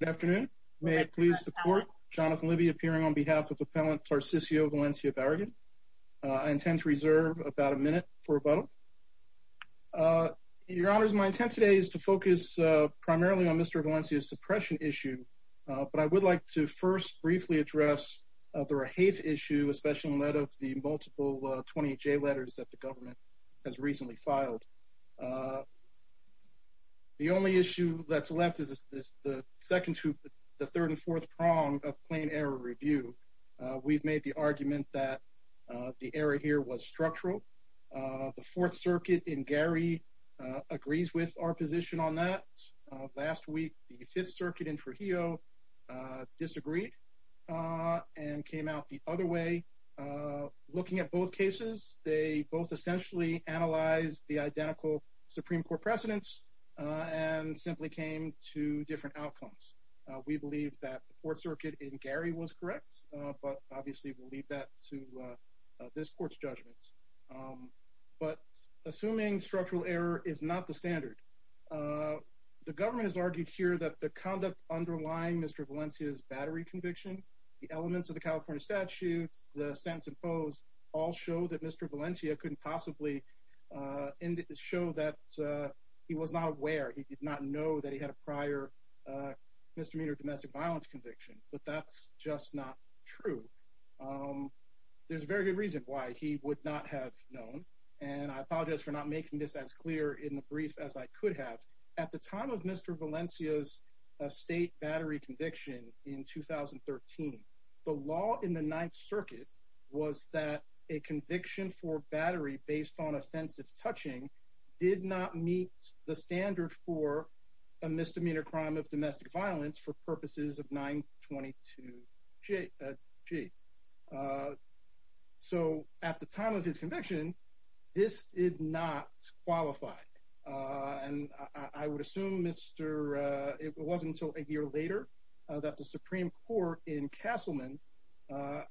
Good afternoon. May it please the court, Jonathan Libby appearing on behalf of Appellant Tarcisio Valencia-Barragan. I intend to reserve about a minute for rebuttal. Your honors, my intent today is to focus primarily on Mr. Valencia's suppression issue, but I would like to first briefly address the Rahaith issue, especially in light of the multiple 28J letters that the government has recently submitted. Rahaith is the second to the third and fourth prong of plain error review. We've made the argument that the error here was structural. The Fourth Circuit in Gary agrees with our position on that. Last week, the Fifth Circuit in Trujillo disagreed and came out the other way. Looking at both cases, they both essentially analyzed the identical Supreme Court precedents and simply came to different outcomes. We believe that the Fourth Circuit in Gary was correct, but obviously we'll leave that to this court's judgments. But assuming structural error is not the standard, the government has argued here that the conduct underlying Mr. Valencia's battery conviction, the elements of the California statutes, the sentence imposed, all show that Mr. Valencia couldn't have a prior misdemeanor domestic violence conviction, but that's just not true. There's a very good reason why he would not have known, and I apologize for not making this as clear in the brief as I could have. At the time of Mr. Valencia's state battery conviction in 2013, the law in the Ninth Circuit was that a conviction for battery based on offensive touching did not meet the misdemeanor crime of domestic violence for purposes of 922g. So at the time of his conviction, this did not qualify, and I would assume it wasn't until a year later that the Supreme Court in Castleman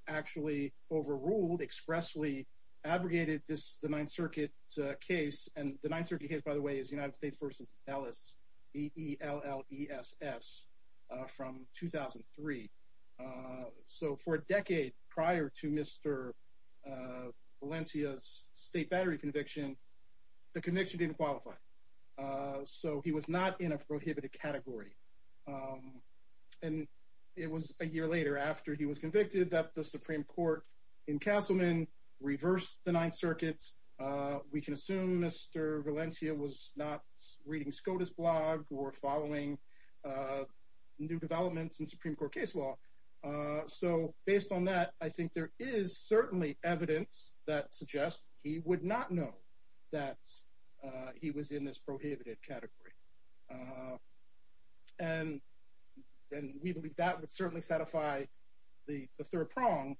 actually overruled, expressly abrogated the Ninth Circuit case, and the Ninth Circuit case, by the way, is United States v. Ellis, E-E-L-L-E-S-S, from 2003. So for a decade prior to Mr. Valencia's state battery conviction, the conviction didn't qualify. So he was not in a prohibited category, and it was a year later after he was convicted that the Supreme Court in Castleman reversed the Ninth Circuit. We can assume Mr. Valencia was not reading SCOTUS blog or following new developments in Supreme Court case law. So based on that, I think there is certainly evidence that suggests he would not know that he was in this prohibited category, and we believe that would certainly satisfy the third prong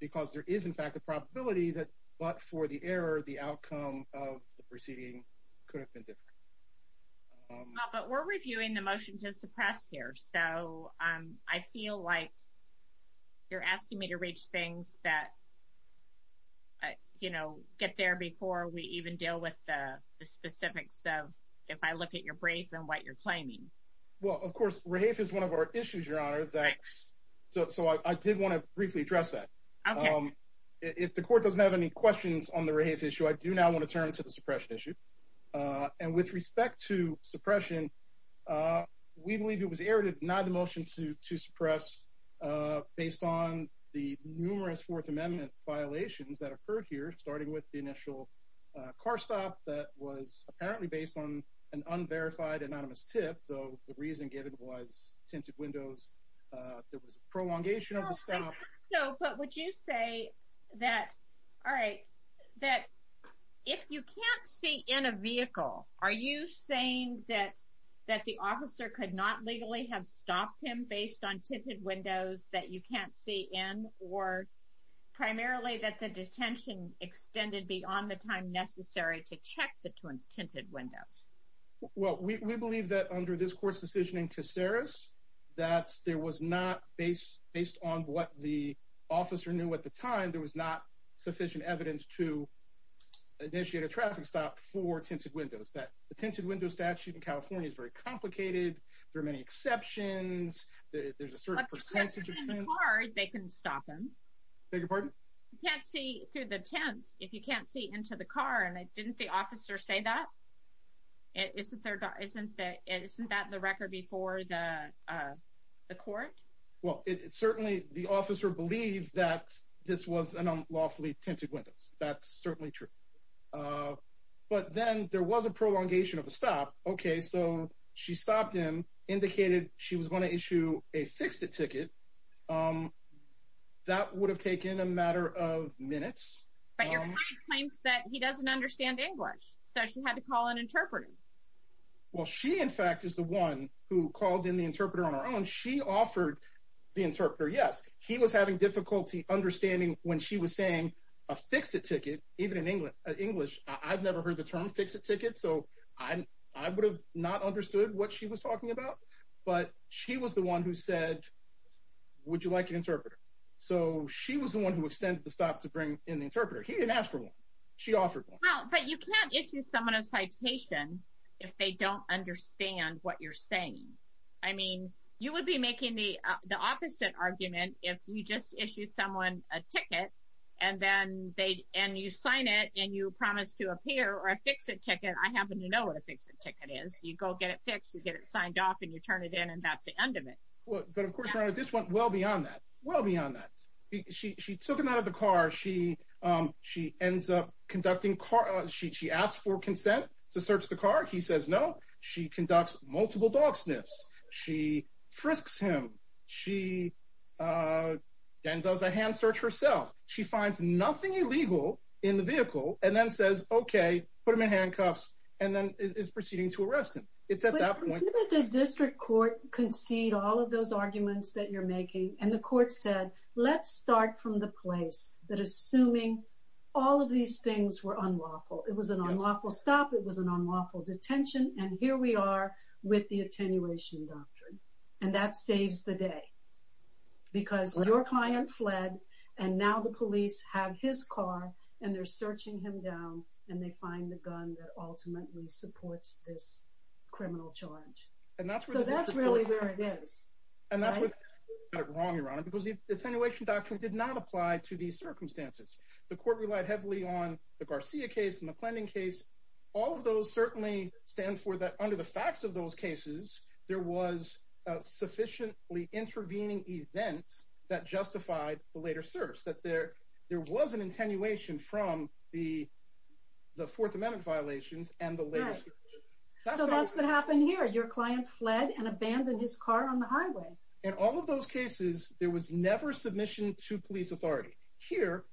because there is in fact a But we're reviewing the motion to suppress here, so I feel like you're asking me to reach things that, you know, get there before we even deal with the specifics of if I look at your brief and what you're claiming. Well, of course, rehafe is one of our issues, Your Honor, so I did want to briefly address that. If the court doesn't have any questions on the rehafe issue, I do now want to turn to the suppression issue. And with respect to suppression, we believe it was errated not the motion to suppress based on the numerous Fourth Amendment violations that occurred here, starting with the initial car stop that was apparently based on an unverified anonymous tip, though the reason given was tinted windows. There was a prolongation of the stop. No, but would you say that? All right, that if you can't see in a vehicle, are you saying that that the officer could not legally have stopped him based on tinted windows that you can't see in or primarily that the detention extended beyond the time necessary to check the tinted windows? Well, we believe that under this court's decision in Caceres, that there was not, based on what the officer knew at the time, there was not sufficient evidence to initiate a traffic stop for tinted windows. That the tinted window statute in California is very complicated. There are many exceptions. There's a certain percentage of tinted windows. If you can't see in the car, they can stop him. Beg your pardon? You can't see through the tint if you can't see into the car. And isn't that the record before the court? Well, it's certainly the officer believed that this was an unlawfully tinted windows. That's certainly true. But then there was a prolongation of the stop. Okay, so she stopped him, indicated she was going to issue a fixed-ticket. That would have taken a matter of minutes. But your client claims that he doesn't understand English, so she had to call an interpreter. Well, she, in fact, is the one who called in the interpreter on her own. She offered the interpreter, yes. He was having difficulty understanding when she was saying a fixed-ticket, even in English. I've never heard the term fixed-ticket, so I would have not understood what she was talking about. But she was the one who said, would you like an interpreter? So she was the one who extended the stop to bring in the interpreter. He didn't ask for one. She said, well, I don't understand what you're saying. I mean, you would be making the opposite argument if you just issue someone a ticket and then they, and you sign it and you promise to appear or a fixed-ticket. I happen to know what a fixed-ticket is. You go get it fixed, you get it signed off, and you turn it in, and that's the end of it. Well, but of course, Your Honor, this went well beyond that. Well beyond that. She took him out of the car. She ends up conducting, she asked for consent to search the car. He says no. She conducts multiple dog sniffs. She frisks him. She then does a hand search herself. She finds nothing illegal in the vehicle and then says, okay, put him in handcuffs, and then is proceeding to arrest him. It's at that point. But didn't the district court concede all of those arguments that you're making? And the court said, let's start from the place that assuming all of these things were unlawful. It was an unlawful stop. It was an unlawful detention, and here we are with the attenuation doctrine, and that saves the day because your client fled, and now the police have his car, and they're searching him down, and they find the gun that ultimately supports this criminal charge. So that's really where it is. And that's what's wrong, Your Honor, because the circumstances. The court relied heavily on the Garcia case, the McClendon case. All of those certainly stand for that under the facts of those cases, there was a sufficiently intervening event that justified the later search. That there was an attenuation from the Fourth Amendment violations and the later search. So that's what happened here. Your client fled and abandoned his car on the highway. In all of those cases, there was never submission to police authority. Here,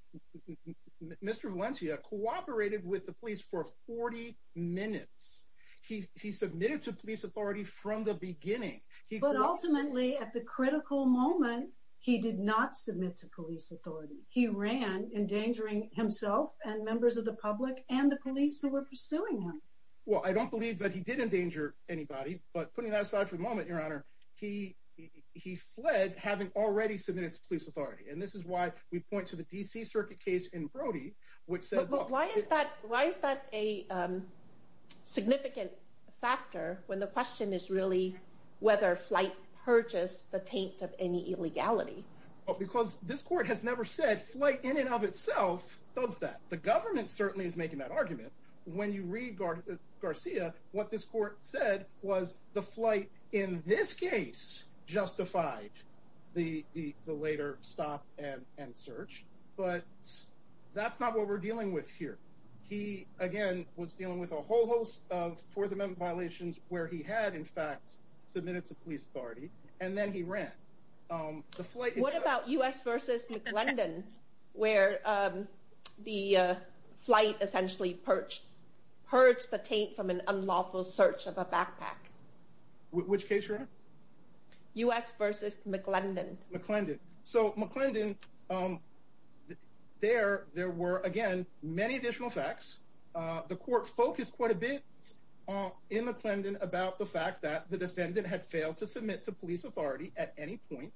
Mr. Valencia cooperated with the police for 40 minutes. He submitted to police authority from the beginning. But ultimately, at the critical moment, he did not submit to police authority. He ran, endangering himself and members of the public and the police who were pursuing him. Well, I don't believe that he did endanger anybody, but putting that aside for a moment, Your Honor, he fled having already submitted to police authority. And this is why we point to the D.C. Circuit case in Brody, which said. But why is that a significant factor when the question is really whether flight purges the taint of any illegality? Because this court has never said flight in and of itself does that. The government certainly is making that argument. When you read Garcia, what this court said was the flight in this case justified the later stop and search. But that's not what we're dealing with here. He, again, was dealing with a whole host of Fourth Amendment violations where he had, in fact, submitted to police authority, and then he ran. What about U.S. versus McClendon, where the flight essentially purged the taint from an unlawful search of a backpack? Which case, Your Honor? U.S. versus McClendon. McClendon. So, McClendon, there were, again, many additional facts. The court focused quite a bit in McClendon about the fact that the defendant had failed to submit to police authority at any point,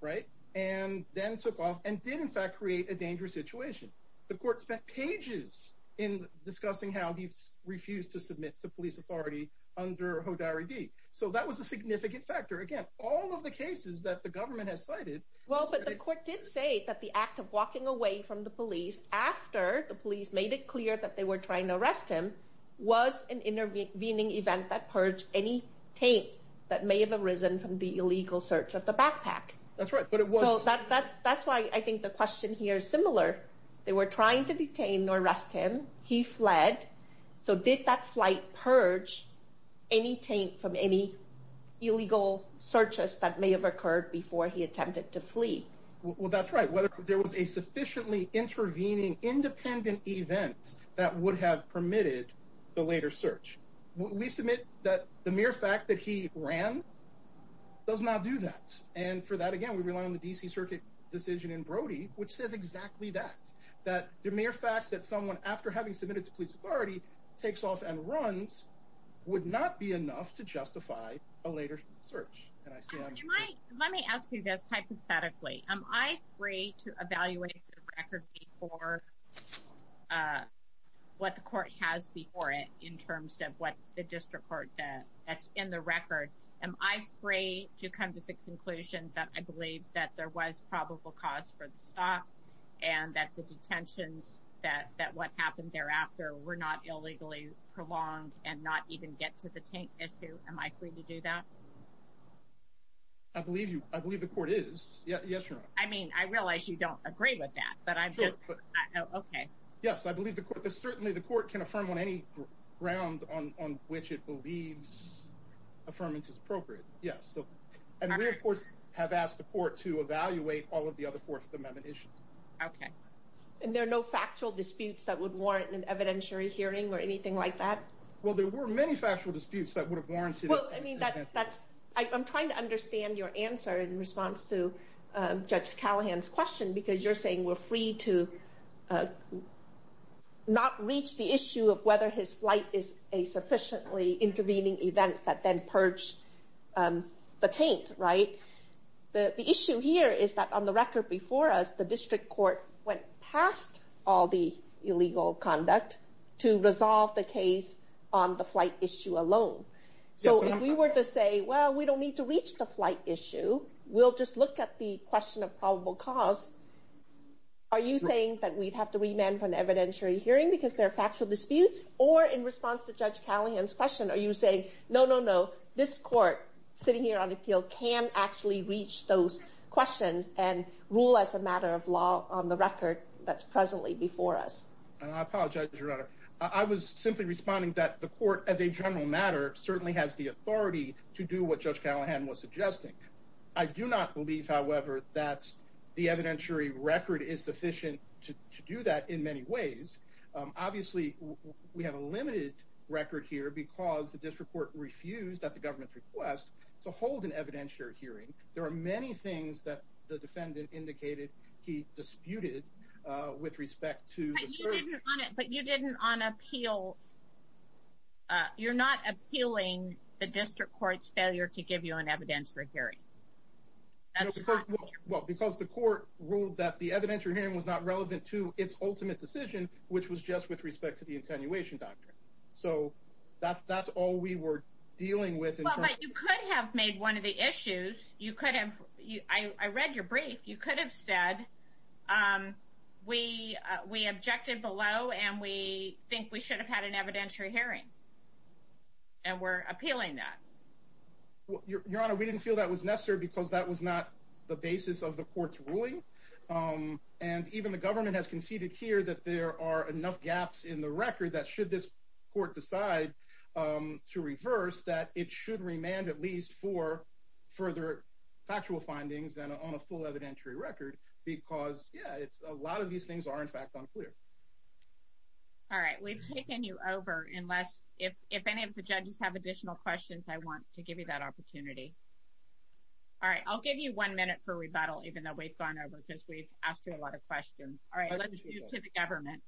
right, and then took off and did, in fact, create a dangerous situation. The court spent pages in discussing how he refused to submit to police authority under Hodari D. So, that was a significant factor. Again, all of the cases that the government has cited... Well, but the court did say that the act of walking away from the police after the police made it clear that they were trying to arrest him was an intervening event that purged any taint that may have arisen from the illegal search of the backpack. That's right, but it was... That's why I think the question here is similar. They were trying to detain or arrest him. He fled. So, did that flight purge any taint from any illegal searches that may have occurred before he attempted to flee? Well, that's right. Whether there was a sufficiently intervening, independent event that would have permitted the later search. We submit that the mere fact that he ran does not do that. And for that, again, we rely on the D.C. Circuit decision in Brody, which says exactly that. That the mere fact that someone, after having submitted to police authority, takes off and runs would not be enough to justify a later search. Let me ask you this hypothetically. Am I free to evaluate the record before what the court has before it in terms of the district court that's in the record? Am I free to come to the conclusion that I believe that there was probable cause for the stop and that the detentions, that what happened thereafter, were not illegally prolonged and not even get to the taint issue? Am I free to do that? I believe you. I believe the court is. Yes, you're right. I mean, I realize you don't agree with that, but I'm just... Okay. Yes, I believe the court... Certainly, the court can affirm on any ground on which it believes affirmance is appropriate. Yes. And we, of course, have asked the court to evaluate all of the other Fourth Amendment issues. Okay. And there are no factual disputes that would warrant an evidentiary hearing or anything like that? Well, there were many factual disputes that would have warranted... Well, I mean, that's... I'm trying to understand your answer in response to Judge Callahan's question because you're saying we're free to not reach the issue of whether his flight is a sufficiently intervening event that then purged the taint, right? The issue here is that on the record before us, the district court went past all the illegal conduct to resolve the case on the flight issue alone. So if we were to say, well, we don't need to reach the flight issue. We'll just look at the question of probable cause. Are you saying that we'd have to remand for an evidentiary hearing because there are factual disputes? Or in response to Judge Callahan's question, are you saying, no, no, no, this court sitting here on appeal can actually reach those questions and rule as a matter of law on the record that's presently before us? I apologize, Your Honor. I was simply responding that the court, as a general matter, certainly has the authority to do what Judge Callahan was suggesting. I do not believe, however, that the evidentiary record is sufficient to do that in many ways. Obviously, we have a limited record here because the district court refused at the government's request to hold an evidentiary hearing. There are many things that the defendant indicated he disputed with respect to- But you didn't on appeal. You're not appealing the district court's failure to give you an evidentiary hearing. Well, because the court ruled that the evidentiary hearing was not relevant to its ultimate decision, which was just with respect to the attenuation doctrine. So that's all we were dealing with. But you could have made one of the issues. You could have. I read your brief. You could have said, we objected below and we think we should have had an evidentiary hearing. And we're appealing that. Your Honor, we didn't feel that was necessary because that was not the basis of the court's ruling. And even the government has conceded here that there are enough gaps in the record that should this court decide to reverse that it should remand at least for further factual findings and on a full evidentiary record because, yeah, it's a lot of these things are in fact unclear. All right. We've taken you over unless if any of the judges have additional questions, I want to give you that opportunity. All right. I'll give you one minute for rebuttal, even though we've gone over because we've asked you a lot of questions. All right. Let's move to the government.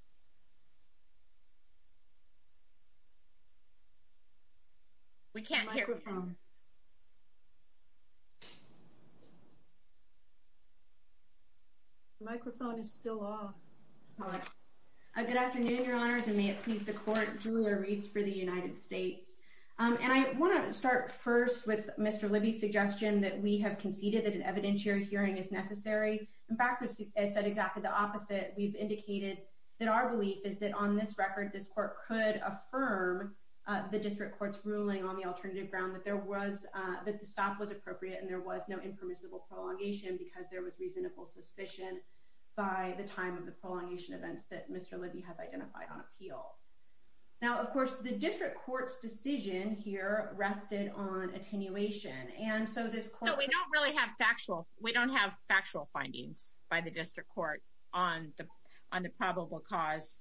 We can't hear. Microphone. The microphone is still off. Good afternoon, Your Honors, and may it please the court, Julia Reese for the United States. And I want to start first with Mr. Libby's suggestion that we have conceded that an evidentiary hearing is necessary. In fact, it said exactly the opposite. We've indicated that our belief is that on this record, this court could affirm the district court's ruling on the alternative ground that the stop was appropriate and there was no impermissible prolongation because there was reasonable suspicion by the time of the prolongation events that Mr. Libby has identified on appeal. Now, of course, the district court's decision here rested on attenuation. And so this court- No, we don't really have factual. We don't have factual findings by the district court on the probable cause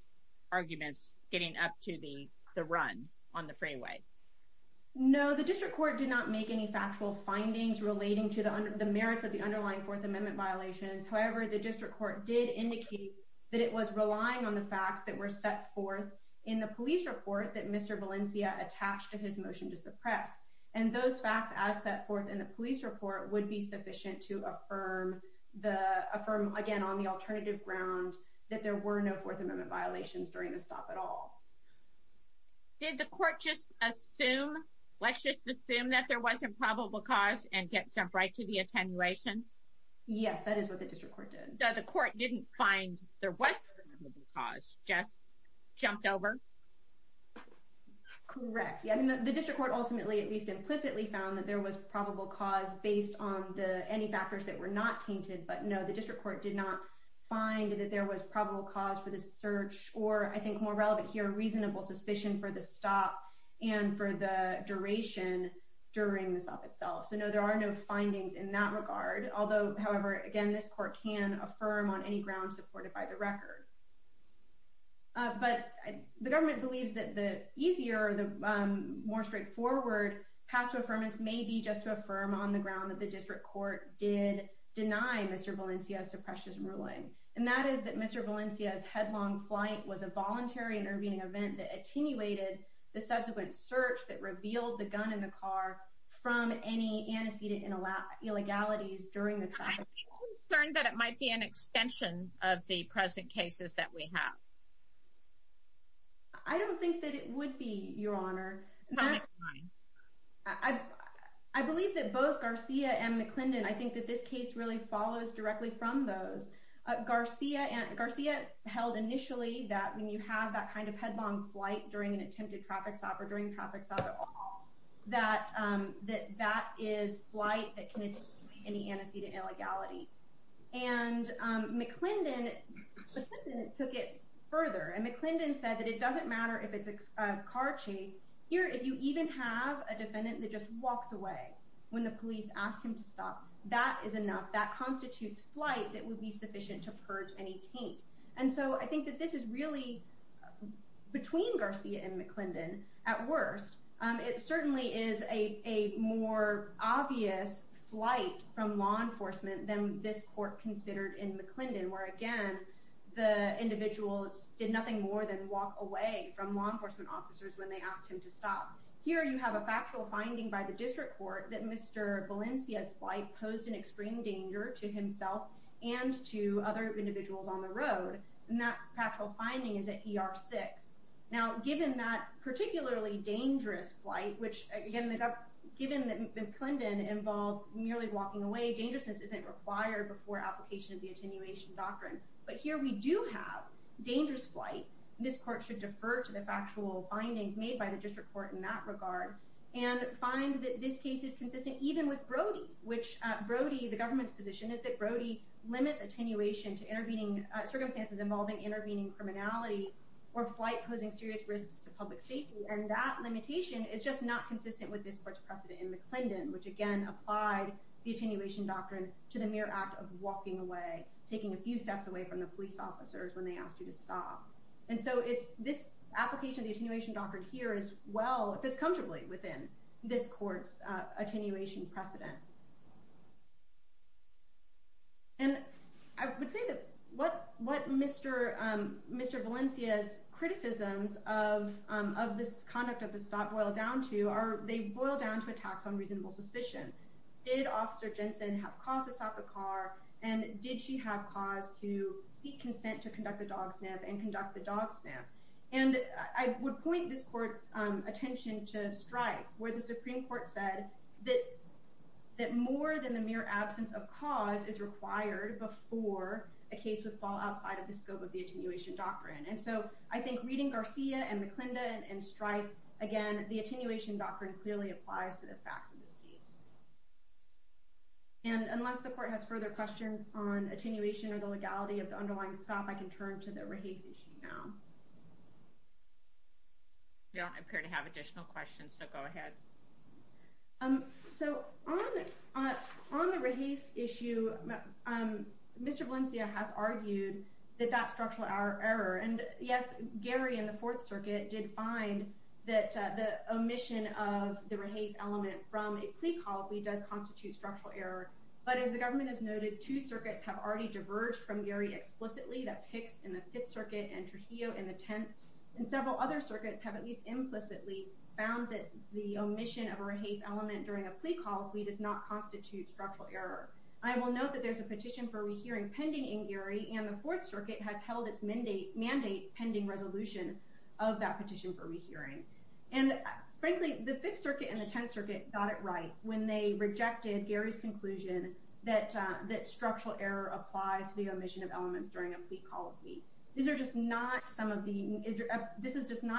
arguments getting up to the run on the freeway. No, the district court did not make any factual findings relating to the merits of the underlying Fourth Amendment violations. However, the district court did indicate that it was relying on the facts that were set forth in the police report that Mr. Valencia attached to his motion to suppress. And those facts as set forth in the police report would be sufficient to affirm again on the alternative ground that there were no Fourth Amendment violations during the stop at all. Did the court just assume, let's just assume that there wasn't probable cause and jump right to the attenuation? Yes, that is what the district court did. So the court didn't find there was a probable cause, just jumped over? Correct. The district court ultimately, at least implicitly, found that there was probable cause based on any factors that were not tainted. But no, the district court did not find that there was probable cause for the search, or I think more relevant here, reasonable suspicion for the stop and for the duration during the stop itself. So no, there are no findings in that regard. Although, however, again, this court can affirm on any ground supported by the record. But the government believes that the easier, the more straightforward path to affirmance may be just to affirm on the ground that the district court did deny Mr. Valencia's suppression ruling. And that is that Mr. Valencia's headlong flight was a voluntary intervening event that attenuated the subsequent search that revealed the gun in the car from any antecedent illegalities during the traffic. Are you concerned that it might be an extension of the present cases that we have? I don't think that it would be, Your Honor. I believe that both Garcia and McClendon, I think that this case really follows directly from those. Garcia held initially that when you have that kind of headlong flight during an attempted traffic stop or during traffic stops at all, that that is flight that can attenuate any antecedent illegality. And McClendon took it further, and McClendon said that it doesn't matter if it's a car chase. Here, if you even have a defendant that just walks away when the police ask him to stop, that is enough. That constitutes flight that would be sufficient to purge any taint. And so I think that this is really between Garcia and McClendon at worst. It certainly is a more obvious flight from law enforcement than this court considered in McClendon, where again, the individual did nothing more than walk away from law enforcement officers when they asked him to stop. Here, you have a factual finding by the district court that Mr. Valencia's flight posed an extreme danger to himself and to other individuals on the road. And that factual finding is at ER 6. Now, given that particularly dangerous flight, which again, given that McClendon involved merely walking away, dangerousness isn't required before application of the attenuation doctrine. But here we do have dangerous flight. This court should defer to the factual findings made by the district court in that regard and find that this case is consistent even with Brody, which Brody, the government's position is that Brody limits attenuation to intervening circumstances involving intervening criminality or flight posing serious risks to public safety. And that limitation is just not consistent with this court's precedent in McClendon, which again, applied the attenuation doctrine to the mere act of walking away, taking a few steps away from the police officers when they asked you to stop. And so it's this application of the attenuation doctrine here is well, fits comfortably within this court's attenuation precedent. And I would say that what Mr. Valencia's criticisms of this conduct of the stop boil down to are they boil down to attacks on reasonable suspicion. Did Officer Jensen have cause to stop the car? And did she have cause to seek consent to conduct a dog snap and conduct the dog snap? And I would point this court's attention to Stripe, where the Supreme Court said that more than the mere absence of cause is required before a case would fall outside of the scope of the attenuation doctrine. And so I think reading Garcia and McClendon and Stripe, again, the attenuation doctrine clearly applies to the facts of this case. And unless the court has further questions on attenuation or the legality of the underlying stop, I can turn to the Raheith issue now. Yeah, I appear to have additional questions, so go ahead. So on the Raheith issue, Mr. Valencia has argued that that's structural error. And yes, Gary in the Fourth Circuit did find that the omission of the Raheith element from a plea call does constitute structural error. But as the government has noted, two circuits have already diverged from Gary explicitly. That's Hicks in the Fifth Circuit and Trujillo in the Tenth. And several other circuits have at least implicitly found that the omission of a Raheith element during a plea call does not constitute structural error. I will note that there's a petition for rehearing pending in Gary, and the Fourth Circuit has held its mandate pending resolution of that petition for rehearing. And frankly, the Fifth Circuit and the Tenth Circuit got it right when they rejected Gary's conclusion that structural error applies to the omission of elements during a plea call. This is just not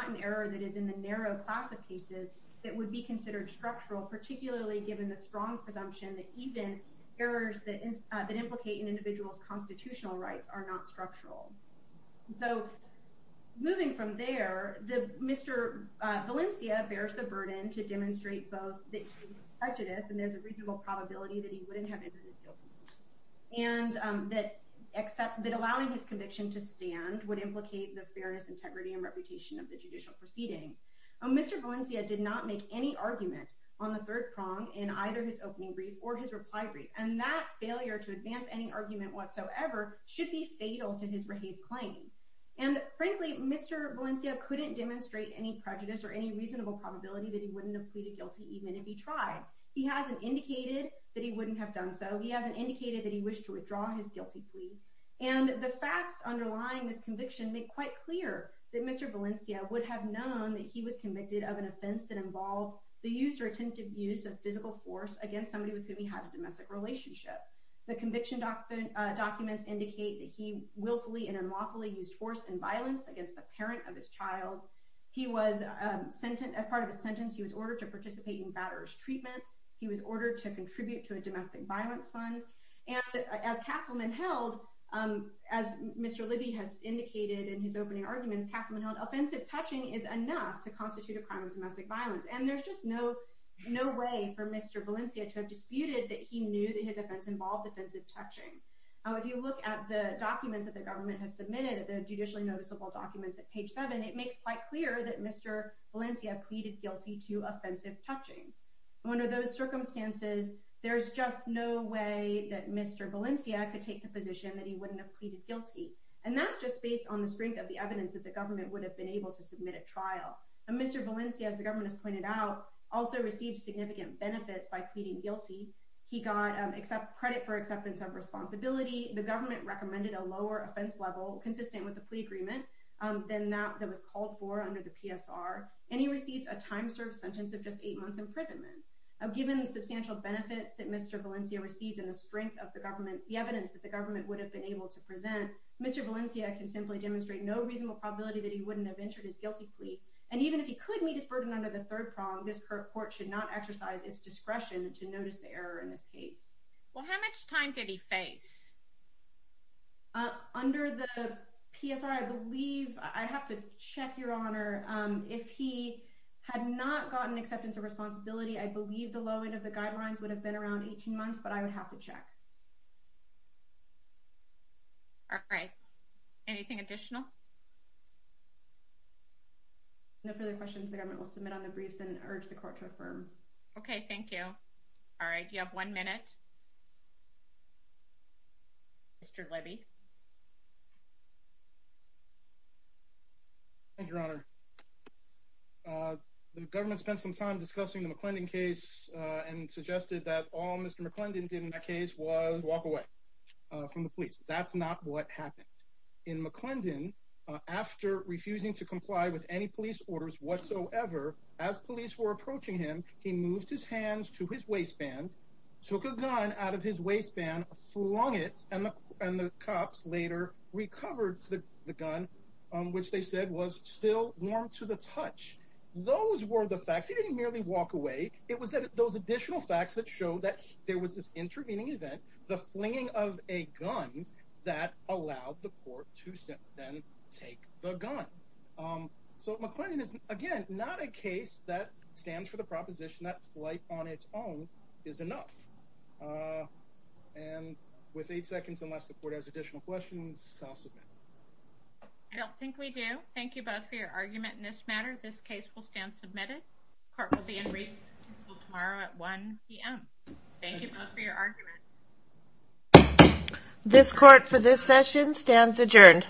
an error that is in the narrow class of cases that would be considered structural, particularly given the strong presumption that even errors that implicate an individual's constitutional rights are not structural. So moving from there, Mr. Valencia bears the burden to demonstrate both prejudice, and there's a reasonable probability that he wouldn't have entered his guilty plea, and that allowing his conviction to stand would implicate the fairness, integrity, and reputation of the judicial proceedings. Mr. Valencia did not make any argument on the third prong in either his opening brief or his reply brief, and that failure to advance any argument whatsoever should be fatal to his Raheith claim. And frankly, Mr. Valencia couldn't demonstrate any prejudice or any reasonable probability that he wouldn't have pleaded guilty even if he tried. He hasn't indicated that he wouldn't have done so. He hasn't indicated that he wished to withdraw his guilty plea. And the facts underlying this conviction make quite clear that Mr. Valencia would have known that he was convicted of an offense that involved the use or attempted use of physical force against somebody with whom he had a domestic relationship. The conviction documents indicate that he willfully and unlawfully used force and violence against a parent of his child. As part of his sentence, he was ordered to participate in batterer's treatment. He was ordered to contribute to a domestic violence fund. And as Mr. Libby has indicated in his opening arguments, Castleman held offensive touching is enough to constitute a crime of domestic violence. And there's just no way for Mr. Valencia to have disputed that he knew that his offense involved offensive touching. If you look at the documents that the government has submitted, the judicially noticeable documents at page seven, it makes quite clear that Mr. Valencia pleaded guilty to offensive touching. Under those circumstances, there's just no way that Mr. Valencia could take the position that he wouldn't have pleaded guilty. And that's just based on the strength of the evidence that the government would have been able to submit a trial. And Mr. Valencia, as the government has pointed out, also received significant benefits by pleading guilty. He got credit for acceptance of responsibility. The government recommended a lower offense level consistent with the plea agreement than that that was called for under the PSR. And he received a time served sentence of just eight months imprisonment. Now given the substantial benefits that Mr. Valencia received and the strength of the government, the evidence that the government would have been able to present, Mr. Valencia can simply demonstrate no reasonable probability that he wouldn't have entered his guilty plea. And even if he could meet his burden under the third prong, this court should not exercise its discretion to notice the error in this case. Well, how much time did he face? Under the PSR, I believe I have to check your honor. If he had not gotten acceptance of responsibility, I believe the low end of the guidelines would have been around 18 months, but I would have to check. All right. Anything additional? No further questions, the government will submit on the briefs and urge the court to affirm. Okay, thank you. All right, you have one minute. Mr. Levy. Thank you, your honor. The government spent some time discussing the McClendon case and suggested that all Mr. McClendon did in that case was walk away from the police. That's not what happened. In McClendon, after refusing to comply with any police orders whatsoever, as police were approaching him, he moved his hands to his waistband, took a gun out of his waistband, flung it, and the cops later recovered the gun, which they said was still warm to the touch. Those were the facts. He didn't merely walk away. It was those additional facts that showed that there was this intervening event, the flinging of a gun that allowed the court to then take the gun. So McClendon is, again, not a case that stands for the proposition that flight on its own is enough. And with eight seconds, unless the court has additional questions, I'll submit. I don't think we do. Thank you both for your argument in this matter. This case will stand submitted. Court will be in recess until tomorrow at 1 p.m. Thank you both for your argument. This court for this session stands adjourned.